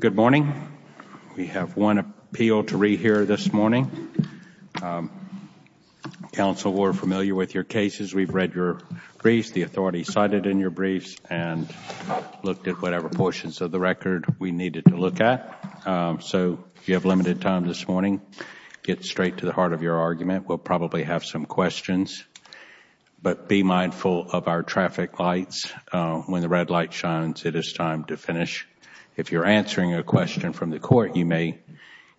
Good morning. We have one appeal to read here this morning. Council were familiar with your cases. We've read your briefs. The authority cited in your briefs and looked at whatever portions of the record we needed to look at. So if you have limited time this morning, get straight to the heart of your argument. We'll probably have some questions, but be mindful of our traffic lights. When the red light shines, it is time to finish. If you're answering a question from the court, you may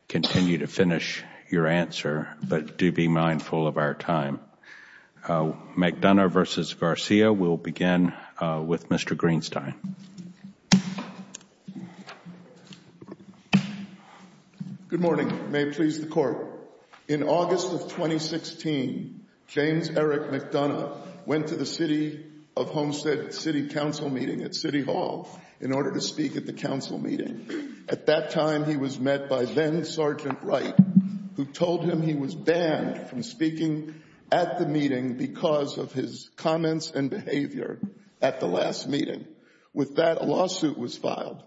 continue to finish your answer, but do be mindful of our time. McDonough v. Garcia, we'll begin with Mr. Greenstein. Good morning. May it please the Court. In August of 2016, James Eric McDonough went to the City of Homestead City Council meeting at City Hall in order to speak at the Council meeting. At that time, he was met by then-Sergeant Wright, who told him he was banned from speaking at the meeting because of his comments and behavior at the last meeting. With that, a lawsuit was filed.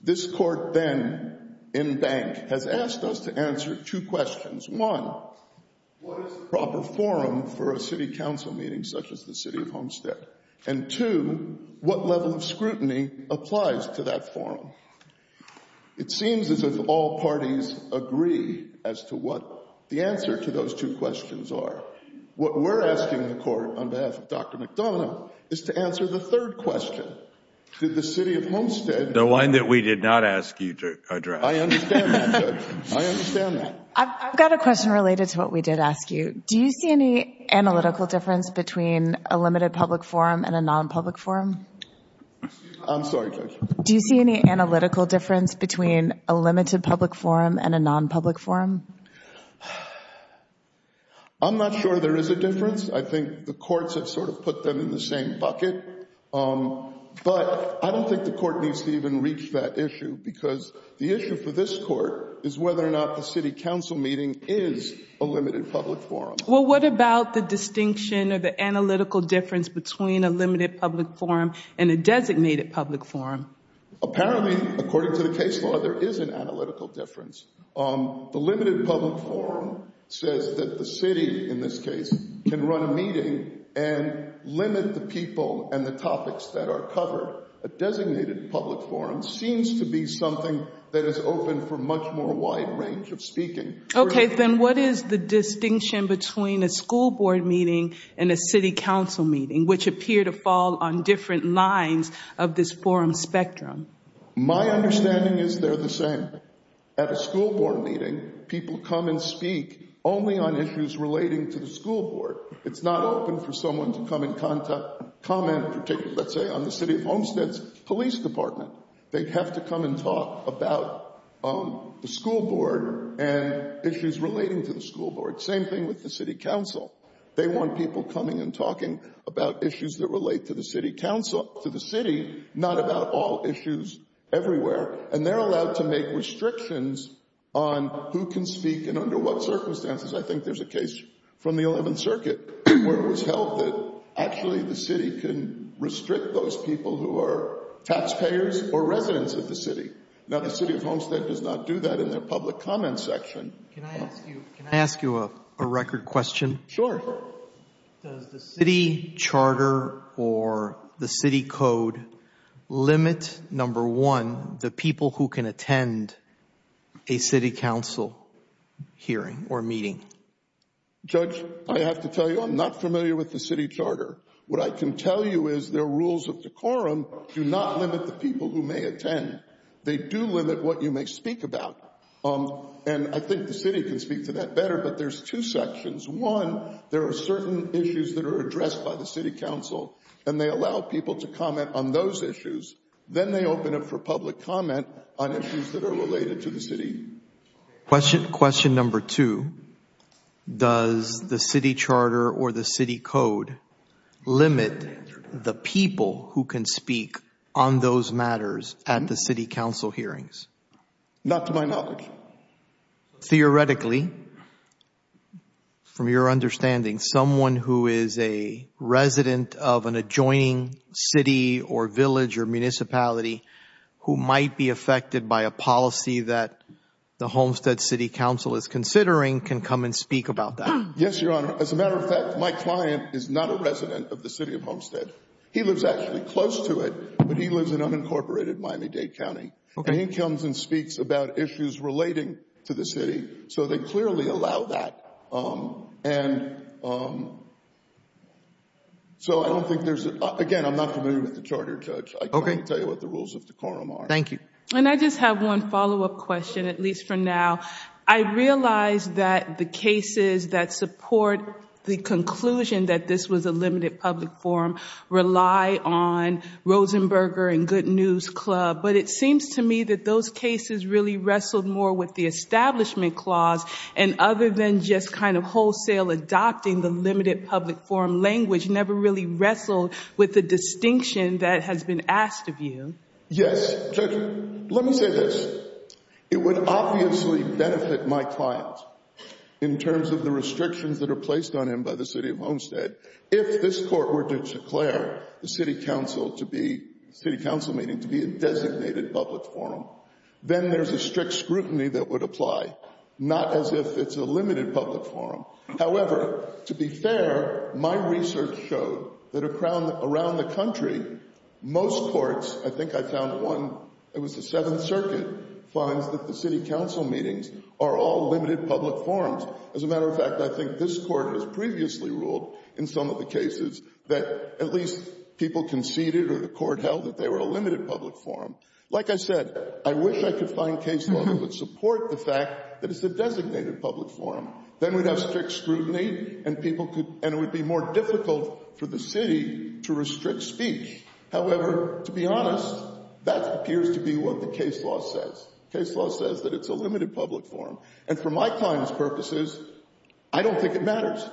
This Court then, in bank, has asked us to answer two questions. One, what is the proper forum for a City Council meeting such as the City of Homestead? And two, what level of scrutiny applies to that forum? It seems as if all parties agree as to what the answer to those two questions are. What we're asking the Court, on behalf of Dr. McDonough, is to answer the third question. Did the City of Homestead— The one that we did not ask you to address. I understand that, Judge. I understand that. I've got a question related to what we did ask you. Do you see any analytical difference between a limited public forum and a non-public forum? I'm sorry, Judge. Do you see any analytical difference between a limited public forum and a non-public forum? I'm not sure there is a difference. I think the courts have sort of put them in the same bucket. But I don't think the Court needs to even reach that issue because the issue for this Court is whether or not the City Council meeting is a limited public forum. Well, what about the distinction or the analytical difference between a limited public forum and a designated public forum? Apparently, according to the case law, there is an analytical difference. The limited public forum says that the City, in this case, can run a meeting and limit the people and the topics that are covered. A designated public forum seems to be something that is open for much more wide range of speaking. Okay, then what is the distinction between a school board meeting and a City Council meeting, which appear to fall on different lines of this forum spectrum? My understanding is they're the same. At a school board meeting, people come and speak only on issues relating to the school board. It's not open for someone to come and comment, let's say, on the City of Homestead's Police Department. They have to come and talk about the school board and issues relating to the school board. Same thing with the City Council. They want people coming and talking about issues that relate to the City Council, to the City, not about all issues everywhere. And they're allowed to make restrictions on who can speak and under what circumstances. I think there's a case from the 11th Circuit where it was held that actually the City can restrict those people who are taxpayers or residents of the City. Now, the City of Homestead does not do that in their public comments section. Can I ask you a record question? Sure. Does the City Charter or the City Code limit, number one, the people who can attend a City Council hearing or meeting? Judge, I have to tell you, I'm not familiar with the City Charter. What I can tell you is the rules of the quorum do not limit the people who may attend. They do limit what you may speak about. And I think the City can speak to that better, but there's two sections. One, there are certain issues that are addressed by the City Council and they allow people to comment on those issues. Then they open up for public comment on issues that are related to the City. Question number two, does the City Charter or the City Code limit the people who can speak on those matters at the City Council hearings? Not to my knowledge. Theoretically, from your understanding, someone who is a resident of an adjoining city or village or municipality who might be affected by a policy that the Homestead City Council is considering can come and speak about that. Yes, Your Honor. As a matter of fact, my client is not a resident of the City of Homestead. He lives actually close to it, but he lives in unincorporated Miami-Dade County. He comes and speaks about issues relating to the City, so they clearly allow that. Again, I'm not familiar with the Charter, Judge. I can't tell you what the rules of the quorum are. Thank you. And I just have one follow-up question, at least for now. I realize that the cases that support the conclusion that this was a limited public forum rely on Rosenberger and Good News Club, but it seems to me that those cases really wrestled more with the Establishment Clause and other than just kind of wholesale adopting the limited public forum language never really wrestled with the distinction that has been asked of you. Yes, Judge. Let me say this. It would obviously benefit my client in terms of the restrictions that are placed on him by the City of Homestead if this Court were to declare the City Council City Council meeting to be a designated public forum. Then there's a strict scrutiny that would apply, not as if it's a limited public forum. However, to be fair, my research showed that around the country, most courts, I think I found one, it was the Seventh Circuit, finds that the City Council meetings are all limited public forums. As a matter of fact, I think this Court has previously ruled in some of the cases that at least people conceded or the Court held that they were a limited public forum. Like I said, I wish I could find case law that would support the fact that it's a designated public forum. Then we'd have strict scrutiny and it would be more difficult for the City to restrict speech. However, to be honest, that appears to be what the case law says. Case law says that it's a limited public forum. And for my client's purposes, I don't think it matters.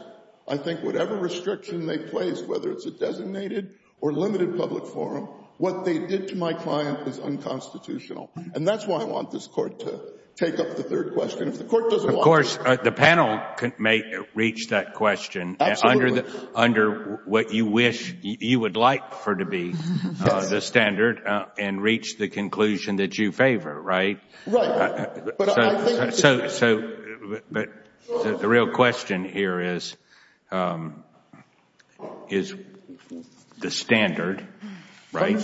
I think whatever restriction they place, whether it's a designated or limited public forum, what they did to my client is unconstitutional. And that's why I want this Court to take up the third question. If the Court doesn't want to... Of course, the panel may reach that question under what you wish you would like for to be the standard and reach the conclusion that you favor, right? Right. But I think... So the real question here is the standard, right?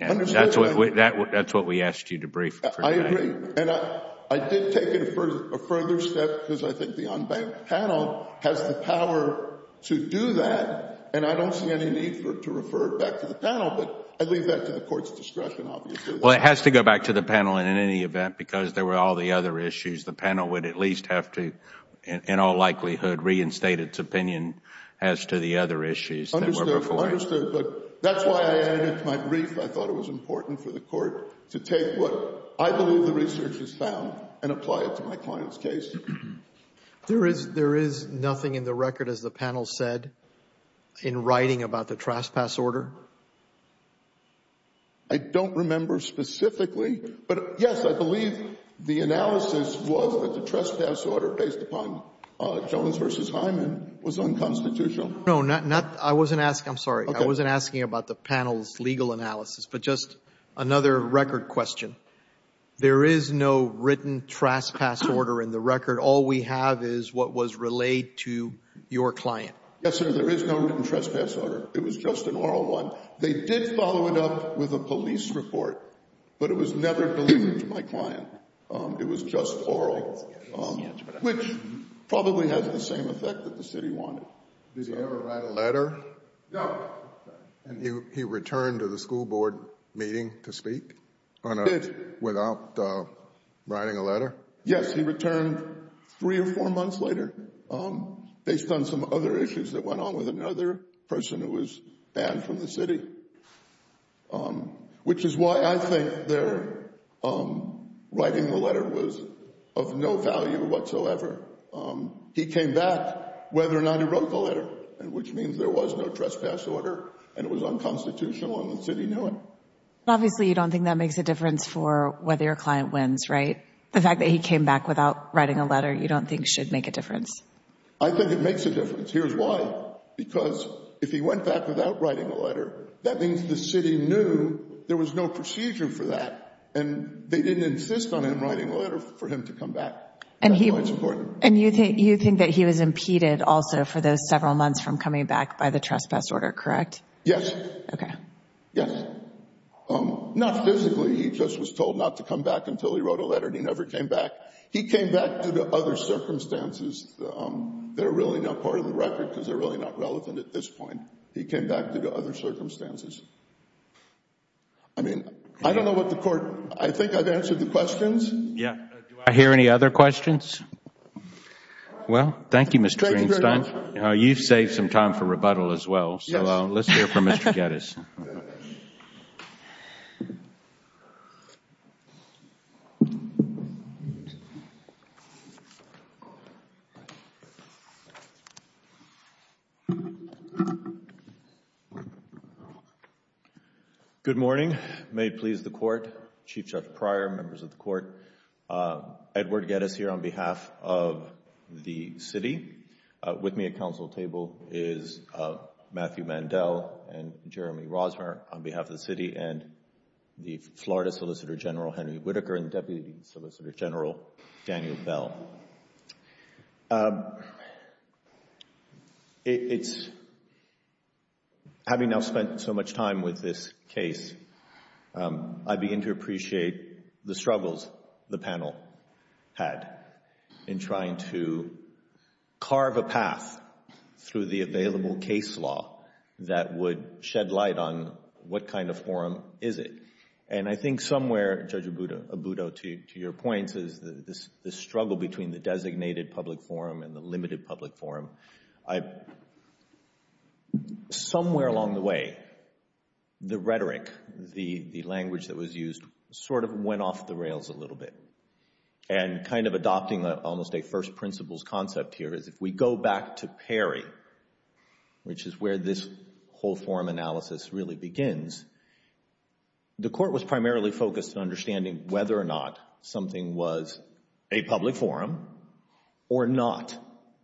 Understood. That's what we asked you to brief. I agree. And I did take it a further step because I think the unbanked panel has the power to do that. And I don't see any need to refer it back to the panel. But I leave that to the Court's discretion, obviously. Well, it has to go back to the panel in any event because there were all the other issues. The panel would at least have to, in all likelihood, reinstate its opinion as to the other issues. Understood, understood. But that's why I added it to my brief. I thought it was important for the Court to take what I believe the research has found and apply it to my client's case. There is nothing in the record, as the panel said, in writing about the trespass order? I don't remember specifically. But yes, I believe the analysis was that the trespass order, based upon Jones v. Hyman, was unconstitutional. No, not... I wasn't asking... I'm sorry. I wasn't asking about the panel's legal analysis. But just another record question. There is no written trespass order in the record. All we have is what was relayed to your client. Yes, sir. There is no written trespass order. It was just an oral one. They did follow it up with a police report, but it was never delivered to my client. It was just oral, which probably has the same effect that the city wanted. Did he ever write a letter? No. And he returned to the school board meeting to speak? He did. Without writing a letter? Yes, he returned three or four months later, based on some other issues that went on with another person who was banned from the city, which is why I think their writing the letter was of no value whatsoever. He came back whether or not he wrote the letter, which means there was no trespass order and it was unconstitutional and the city knew it. Obviously, you don't think that makes a difference for whether your client wins, right? The fact that he came back without writing a letter, you don't think should make a difference? I think it makes a difference. Here's why, because if he went back without writing a letter, that means the city knew there was no procedure for that and they didn't insist on him writing a letter for him to come back. And you think that he was impeded also for those several months from coming back by the trespass order, correct? Yes. Okay. Yes. Not physically. He just was told not to come back until he wrote a letter and he never came back. He came back due to other circumstances that are really not part of the record because they're really not relevant at this point. He came back due to other circumstances. I mean, I don't know what the court, I think I've answered the questions. Yeah, do I hear any other questions? Well, thank you, Mr. Greenstein. You've saved some time for rebuttal as well, so let's hear from Mr. Geddes. Good morning. May it please the Court. Chief Judge Pryor, members of the Court, Edward Geddes here on behalf of the city. With me at council table is Matthew Mandel and Jeremy Rosner on behalf of the city and the Florida Solicitor General Henry Whitaker and Deputy Solicitor General Daniel Bell. Having now spent so much time with this case, I begin to appreciate the struggles the panel had in trying to carve a path through the available case law that would shed light on what kind of forum is it. And I think somewhere, Judge Abudo, to your points is the struggle between the designated public forum and the limited public forum. Somewhere along the way, the rhetoric, the language that was used sort of went off the rails a little bit. And kind of adopting almost a first principles concept here is if we go back to Perry, which is where this whole forum analysis really begins, the Court was primarily focused on understanding whether or not something was a public forum or not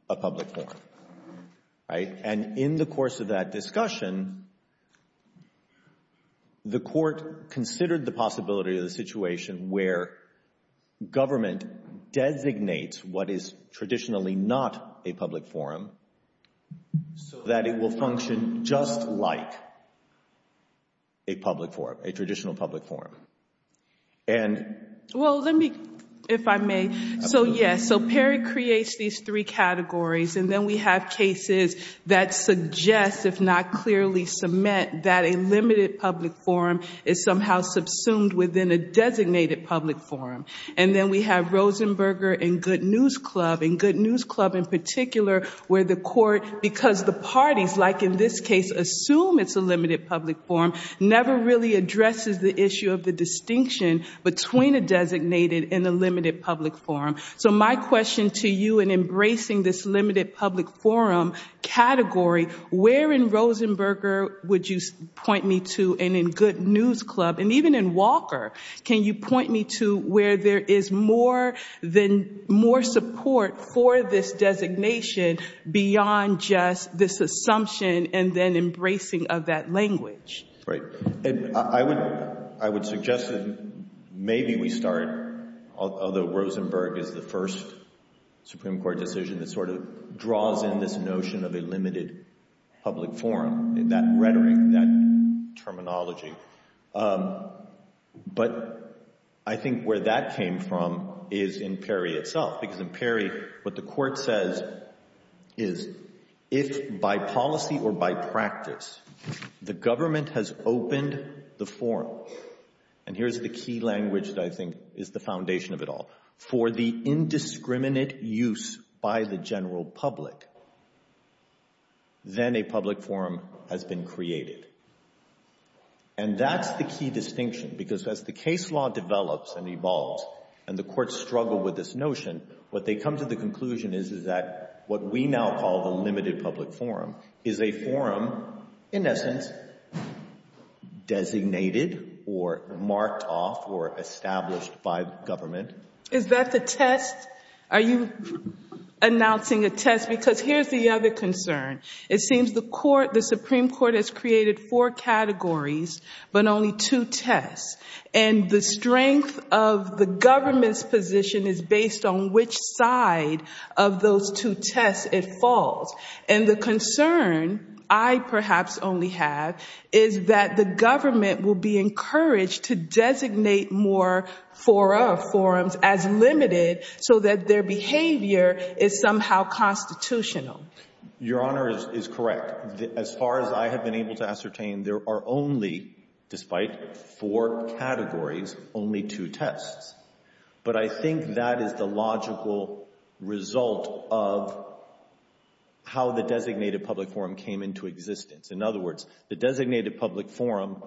a public forum, right? And in the course of that discussion, the Court considered the possibility of the situation where government designates what is traditionally not a public forum so that it will function just like a public forum, a traditional public forum. And... Well, let me, if I may. So, yes. So Perry creates these three categories and then we have cases that suggest, if not clearly cement, that a limited public forum is somehow subsumed within a designated public forum. And then we have Rosenberger and Good News Club. And Good News Club, in particular, where the Court, because the parties, like in this case, assume it's a limited public forum, never really addresses the issue of the distinction between a designated and a limited public forum. So my question to you in embracing this limited public forum category, where in Rosenberger would you point me to, and in Good News Club, and even in Walker, can you point me to where there is more support for this designation beyond just this assumption and then embracing of that language? Right. And I would suggest that maybe we start, although Rosenberger is the first Supreme Court decision that sort of draws in this notion of a limited public forum, that rhetoric, that terminology. But I think where that came from is in Perry itself, because in Perry, what the Court says is, if by policy or by practice, the government has opened the forum, and here's the key language that I think is the foundation of it all, for the indiscriminate use by the general public, then a public forum has been created. And that's the key distinction, because as the case law develops and evolves, and the what we now call the limited public forum is a forum, in essence, designated or marked off or established by government. Is that the test? Are you announcing a test? Because here's the other concern. It seems the Supreme Court has created four categories, but only two tests. And the strength of the government's position is based on which side of those two tests it falls. And the concern I perhaps only have is that the government will be encouraged to designate more forums as limited so that their behavior is somehow constitutional. Your Honor is correct. As far as I have been able to ascertain, there are only, despite four categories, only two tests. But I think that is the logical result of how the designated public forum came into existence. In other words, the designated public forum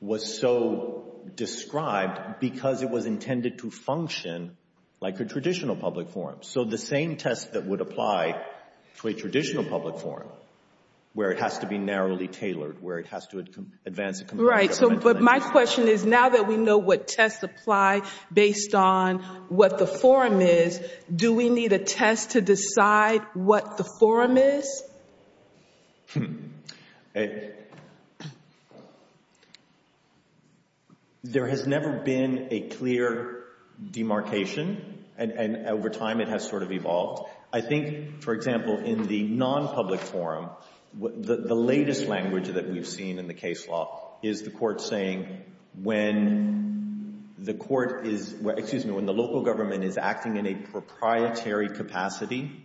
was so described because it was intended to function like a traditional public forum. So the same test that would apply to a traditional public forum, where it has to be narrowly tailored, where it has to advance a committee of government. Right. But my question is, now that we know what tests apply based on what the forum is, do we need a test to decide what the forum is? Hmm. There has never been a clear demarcation, and over time it has sort of evolved. I think, for example, in the non-public forum, the latest language that we've seen in the case law is the court saying when the court is, excuse me, when the local government is acting in a proprietary capacity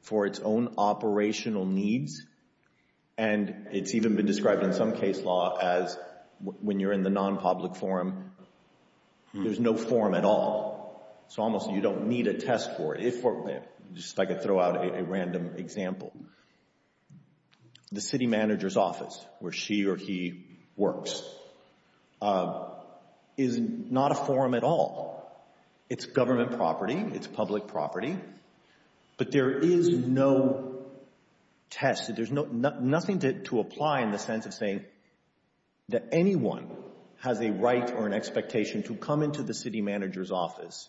for its own operational needs. And it's even been described in some case law as when you're in the non-public forum, there's no forum at all. So almost you don't need a test for it. If, just if I could throw out a random example. The city manager's office, where she or he works, is not a forum at all. It's government property. It's public property. But there is no test. There's nothing to apply in the sense of saying that anyone has a right or an expectation to come into the city manager's office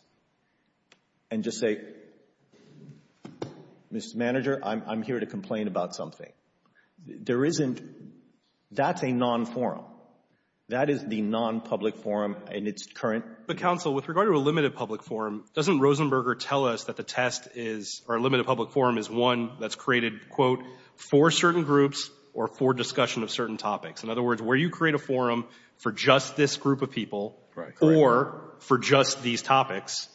and just say, Mr. Manager, I'm here to complain about something. There isn't. That's a non-forum. That is the non-public forum in its current. But counsel, with regard to a limited public forum, doesn't Rosenberger tell us that the test is, or a limited public forum is one that's created, quote, for certain groups or for discussion of certain topics? In other words, where you create a forum for just this group of people or for just these topics,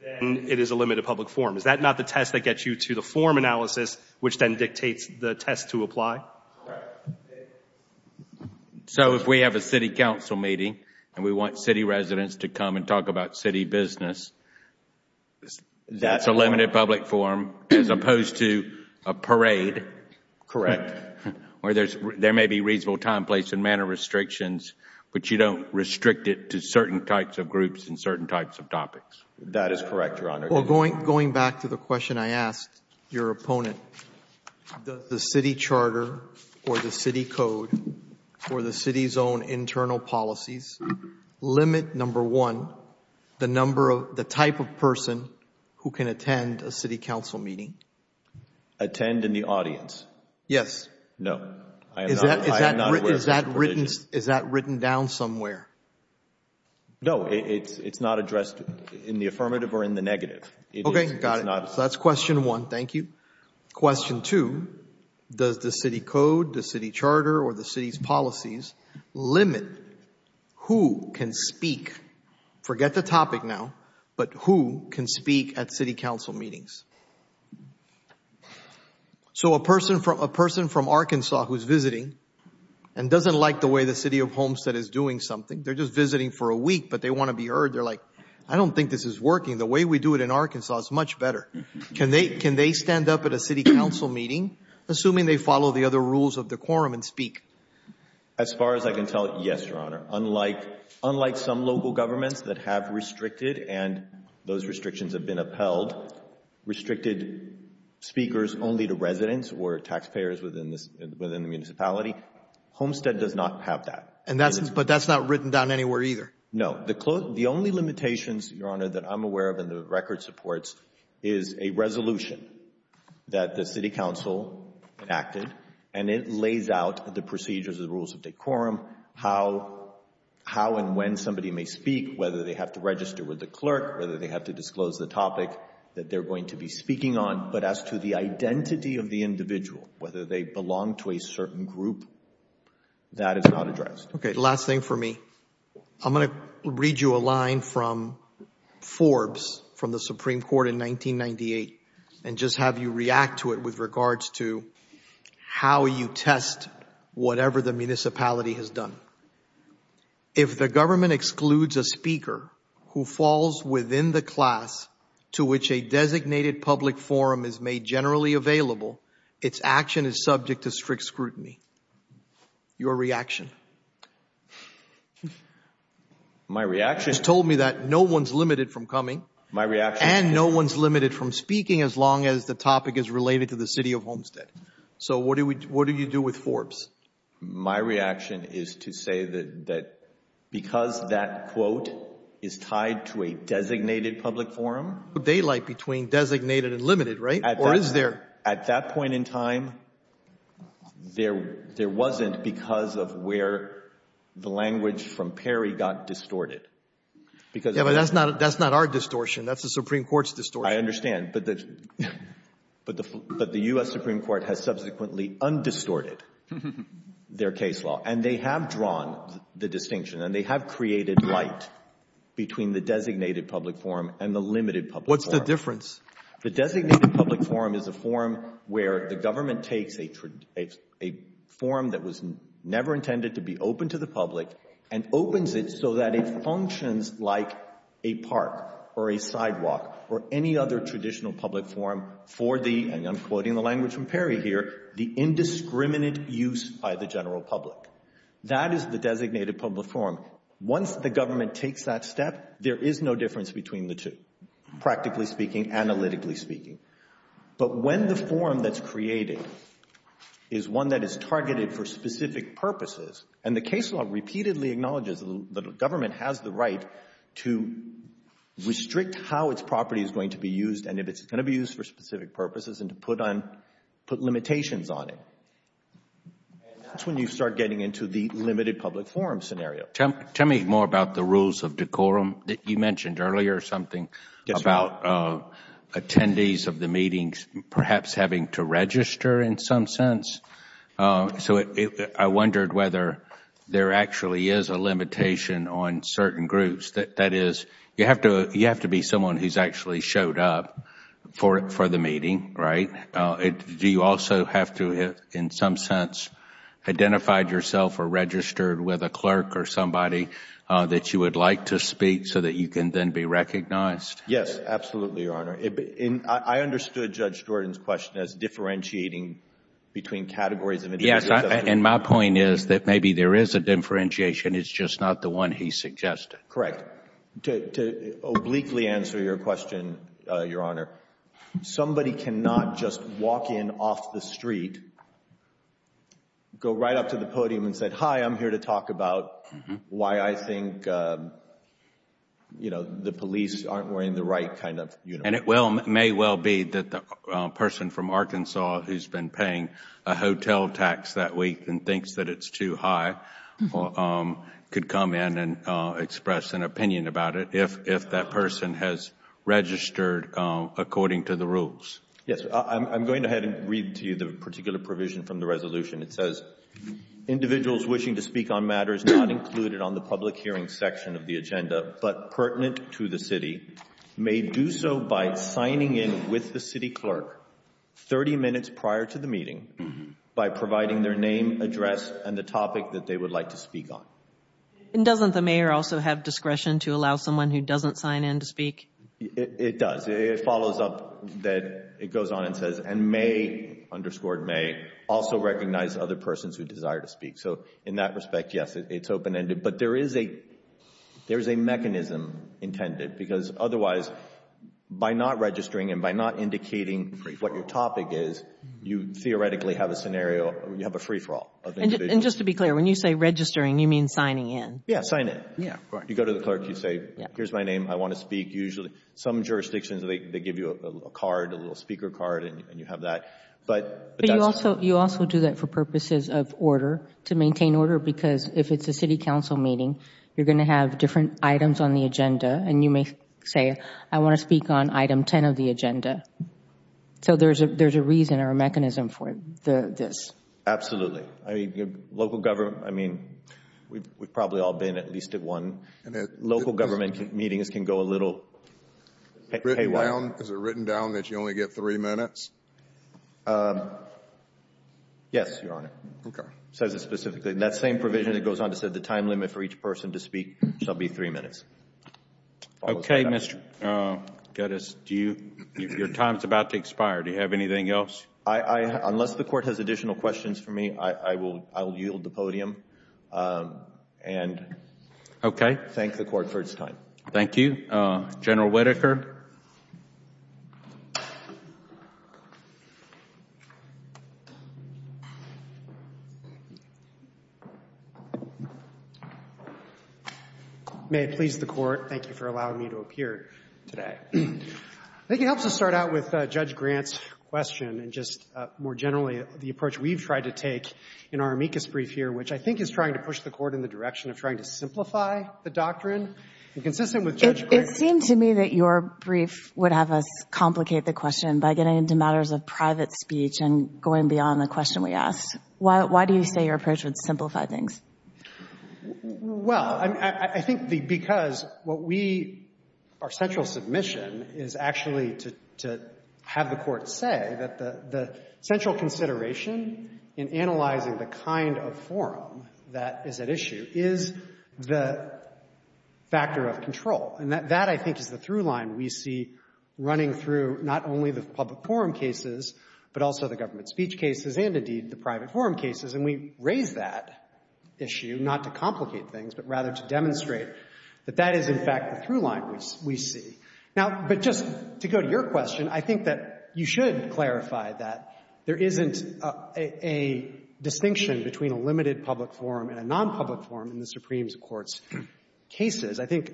then it is a limited public forum. Is that not the test that gets you to the forum analysis, which then dictates the test to apply? Right. So if we have a city council meeting and we want city residents to come and talk about city business, that's a limited public forum as opposed to a parade. Where there may be reasonable time, place and manner restrictions, but you don't restrict it to certain types of groups and certain types of topics. That is correct, Your Honor. Going back to the question I asked your opponent, does the city charter or the city code or the city's own internal policies limit, number one, the type of person who can attend a city council meeting? Attend in the audience. Yes. No. Is that written down somewhere? No, it's not addressed in the affirmative or in the negative. Okay, got it. So that's question one. Thank you. Question two, does the city code, the city charter or the city's policies limit who can speak? Forget the topic now, but who can speak at city council meetings? So a person from Arkansas who's visiting and doesn't like the way the city of Homestead is doing something. They're just visiting for a week, but they want to be heard. They're like, I don't think this is working. The way we do it in Arkansas is much better. Can they stand up at a city council meeting, assuming they follow the other rules of the quorum and speak? As far as I can tell, yes, Your Honor. Unlike some local governments that have restricted and those restrictions have been upheld, restricted speakers only to residents or taxpayers within the municipality, Homestead does not have that. But that's not written down anywhere either. No, the only limitations, Your Honor, that I'm aware of and the record supports is a resolution that the city council enacted, and it lays out the procedures, the rules of the quorum, how and when somebody may speak, whether they have to register with the clerk, whether they have to disclose the topic that they're going to be speaking on. But as to the identity of the individual, whether they belong to a certain group, that is not addressed. Okay, last thing for me. I'm going to read you a line from Forbes from the Supreme Court in 1998 and just have you react to it with regards to how you test whatever the municipality has done. If the government excludes a speaker who falls within the class to which a designated public forum is made generally available, its action is subject to strict scrutiny. Your reaction? My reaction is- You told me that no one's limited from coming- My reaction is- And no one's limited from speaking as long as the topic is related to the city of Homestead. So what do you do with Forbes? My reaction is to say that because that quote is tied to a designated public forum- Daylight between designated and limited, right? Or is there- At that point in time, there wasn't because of where the language from Perry got distorted. Yeah, but that's not our distortion. That's the Supreme Court's distortion. I understand. But the U.S. Supreme Court has subsequently undistorted their case law, and they have drawn the distinction and they have created light between the designated public forum and the limited public forum. What's the difference? The designated public forum is a forum where the government takes a forum that was never intended to be open to the public and opens it so that it functions like a park or a sidewalk or any other traditional public forum for the, and I'm quoting the language from Perry here, the indiscriminate use by the general public. That is the designated public forum. Once the government takes that step, there is no difference between the two, practically speaking, analytically speaking. But when the forum that's created is one that is targeted for specific purposes, and the case law repeatedly acknowledges that the government has the right to restrict how its property is going to be used and if it's going to be used for specific purposes and to put limitations on it, that's when you start getting into the limited public forum scenario. Tell me more about the rules of decorum. You mentioned earlier something about attendees of the meetings perhaps having to register in some sense. So I wondered whether there actually is a limitation on certain groups. That is, you have to be someone who's actually showed up for the meeting, right? Do you also have to have, in some sense, identified yourself or registered with a clerk or somebody that you would like to speak so that you can then be recognized? Yes, absolutely, Your Honor. I understood Judge Jordan's question as differentiating between categories of... Yes, and my point is that maybe there is a differentiation. It's just not the one he suggested. Correct. To obliquely answer your question, Your Honor, somebody cannot just walk in off the street, go right up to the podium and say, hi, I'm here to talk about why I think the police aren't wearing the right kind of uniform. And it may well be that the person from Arkansas who's been paying a hotel tax that week and thinks that it's too high could come in and express an opinion about it if that person has registered according to the rules. Yes, I'm going ahead and read to you the particular provision from the resolution. It says, individuals wishing to speak on matters not included on the public hearing section of the agenda but pertinent to the city may do so by signing in with the city clerk 30 minutes prior to the meeting by providing their name, address and the topic that they would like to speak on. And doesn't the mayor also have discretion to allow someone who doesn't sign in to speak? It does. It follows up that it goes on and says, and may, underscored may, also recognize other persons who desire to speak. So in that respect, yes, it's open-ended. But there is a mechanism intended because otherwise, by not registering and by not indicating what your topic is, you theoretically have a scenario, you have a free-for-all. And just to be clear, when you say registering, you mean signing in? Yes, sign in. Yes, correct. You go to the clerk, you say, here's my name, I want to speak. Usually, some jurisdictions, they give you a card, a little speaker card and you have that. But you also do that for purposes of order, to maintain order because if it's a city council meeting, you're going to have different items on the agenda and you may say, I want to speak on item 10 of the agenda. So there's a reason or a mechanism for this. Absolutely. I mean, we've probably all been at least at one. Local government meetings can go a little haywire. Is it written down that you only get three minutes? Yes, Your Honor. Okay. Says it specifically. That same provision, it goes on to say the time limit for each person to speak shall be three minutes. Okay, Mr. Gettys, your time is about to expire. Do you have anything else? Unless the Court has additional questions for me, I will yield the podium and thank the Court for its time. Thank you. General Whitaker. May it please the Court, thank you for allowing me to appear today. I think it helps us start out with Judge Grant's question and just more generally the approach we've tried to take in our amicus brief here, which I think is trying to push the Court in the direction of trying to simplify the doctrine. And consistent with Judge Grant's— It seemed to me that your brief would have us complicate the question by getting into matters of private speech and going beyond the question we asked. Why do you say your approach would simplify things? Well, I think because what we—our central submission is actually to have the Court say that the central consideration in analyzing the kind of forum that is at issue is the factor of control. And that, I think, is the through line we see running through not only the public forum cases, but also the government speech cases and, indeed, the private forum cases. And we raise that issue not to complicate things, but rather to demonstrate that that is, in fact, the through line we see. Now, but just to go to your question, I think that you should clarify that there isn't a distinction between a limited public forum and a nonpublic forum in the Supreme Court's cases. I think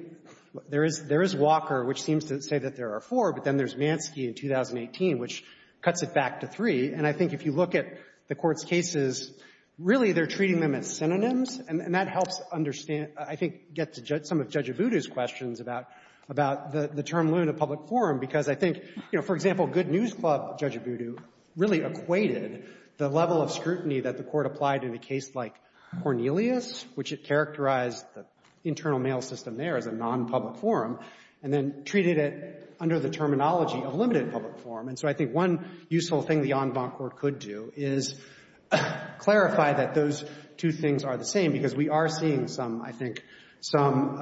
there is Walker, which seems to say that there are four, but then there's Mansky in 2018, which cuts it back to three. And I think if you look at the Court's cases, really, they're treating them as synonyms, and that helps understand, I think, get to some of Judge Abudu's questions about the term limited public forum, because I think, you know, for example, Good News Club, Judge Abudu really equated the level of scrutiny that the Court applied in a case like Cornelius, which it characterized the internal mail system there as a nonpublic forum, and then treated it under the terminology of limited public forum. And so I think one useful thing the en banc could do is clarify that those two things are the same, because we are seeing some, I think, some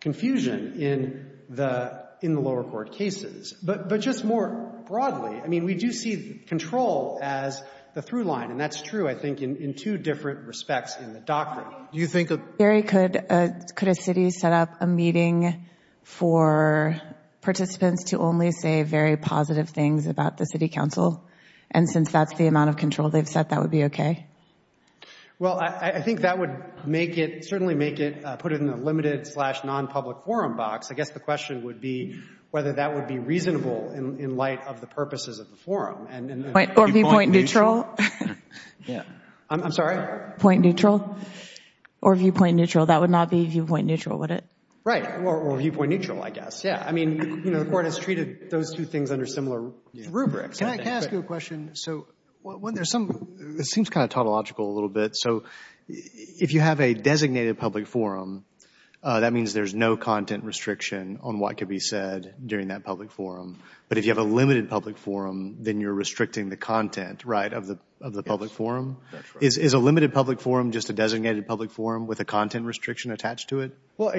confusion in the lower court cases. But just more broadly, I mean, we do see control as the through line, and that's true, I think, in two different respects in the doctrine. Do you think— Barry, could a city set up a meeting for participants to only say very positive things about the city council? And since that's the amount of control they've set, that would be okay? Well, I think that would make it, certainly make it, put it in the limited slash nonpublic forum box. I guess the question would be whether that would be reasonable in light of the purposes of the forum. Or viewpoint neutral? Yeah. I'm sorry? Point neutral? Or viewpoint neutral? That would not be viewpoint neutral, would it? Right. Or viewpoint neutral, I guess. Yeah. I mean, you know, the Court has treated those two things under similar rubrics. Can I ask you a question? So there's some, it seems kind of tautological a little bit. So if you have a designated public forum, that means there's no content restriction on what could be said during that public forum. But if you have a limited public forum, then you're restricting the content, right, of the public forum? Is a limited public forum just a designated public forum with a content restriction attached to it? Well,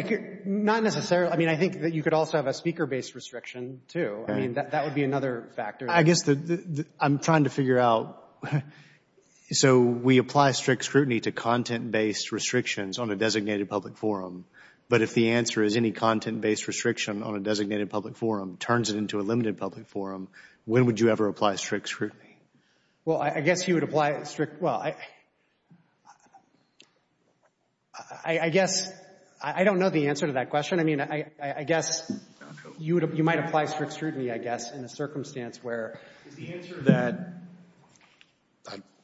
not necessarily. I mean, I think that you could also have a speaker-based restriction, too. I mean, that would be another factor. I'm trying to figure out, so we apply strict scrutiny to content-based restrictions on a designated public forum. But if the answer is any content-based restriction on a designated public forum turns it into a limited public forum, when would you ever apply strict scrutiny? Well, I guess you would apply strict, well, I guess, I don't know the answer to that question. I mean, I guess you would, you might apply strict scrutiny, I guess, in a circumstance where it's the answer that,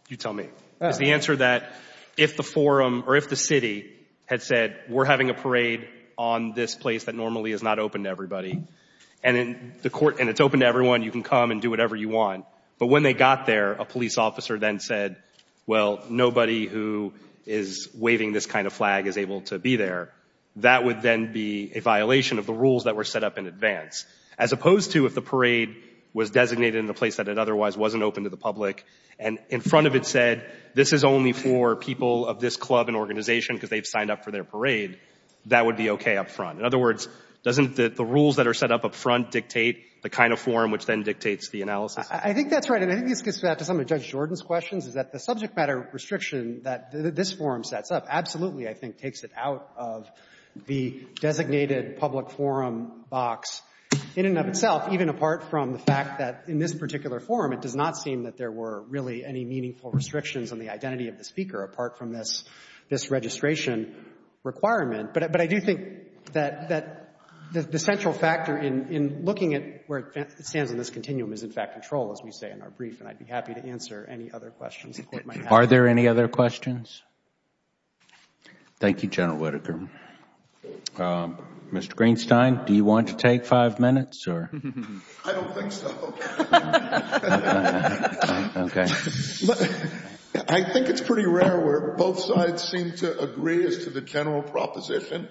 you tell me, it's the answer that if the forum or if the city had said, we're having a parade on this place that normally is not open to everybody and it's open to everyone, you can come and do whatever you want. But when they got there, a police officer then said, well, nobody who is waving this kind of flag is able to be there. That would then be a violation of the rules that were set up in advance, as opposed to if the parade was designated in a place that it otherwise wasn't open to the public and in front of it said, this is only for people of this club and organization because they've signed up for their parade, that would be okay up front. In other words, doesn't the rules that are set up up front dictate the kind of forum which then dictates the analysis? I think that's right. And I think this gets back to some of Judge Jordan's questions, is that the subject matter restriction that this forum sets up absolutely, I think, takes it out of the designated public forum box in and of itself, even apart from the fact that in this particular forum, it does not seem that there were really any meaningful restrictions on the identity of the speaker apart from this registration requirement. But I do think that the central factor in looking at where it stands in this continuum is in fact control, as we say in our brief, and I'd be happy to answer any other questions Are there any other questions? Thank you, General Whitaker. Mr. Greenstein, do you want to take five minutes? I don't think so. I think it's pretty rare where both sides seem to agree as to the general proposition.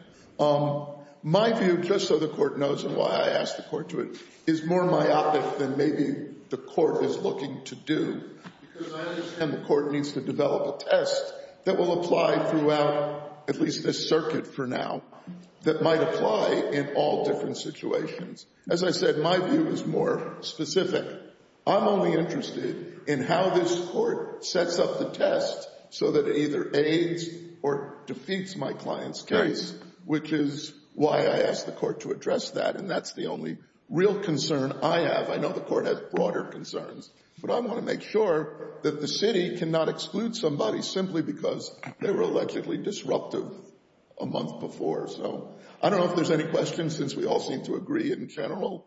My view, just so the Court knows and why I asked the Court to it, is more myopic than maybe the Court is looking to do. Because I understand the Court needs to develop a test that will apply throughout at least this circuit for now, that might apply in all different situations. As I said, my view is more specific. I'm only interested in how this Court sets up the test so that it either aids or defeats my client's case, which is why I asked the Court to address that, and that's the only real concern I have. I know the Court has broader concerns, but I want to make sure that the City cannot exclude somebody simply because they were allegedly disruptive a month before. So, I don't know if there's any questions since we all seem to agree in general.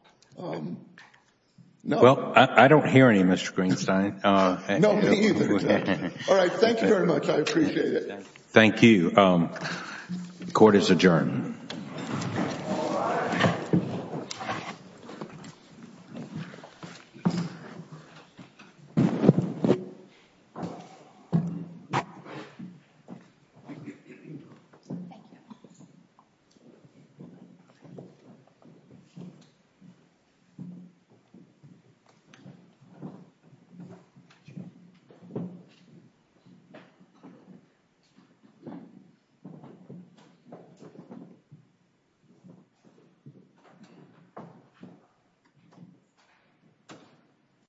No. Well, I don't hear any, Mr. Greenstein. No, me either. All right, thank you very much. I appreciate it. Thank you. The Court is adjourned.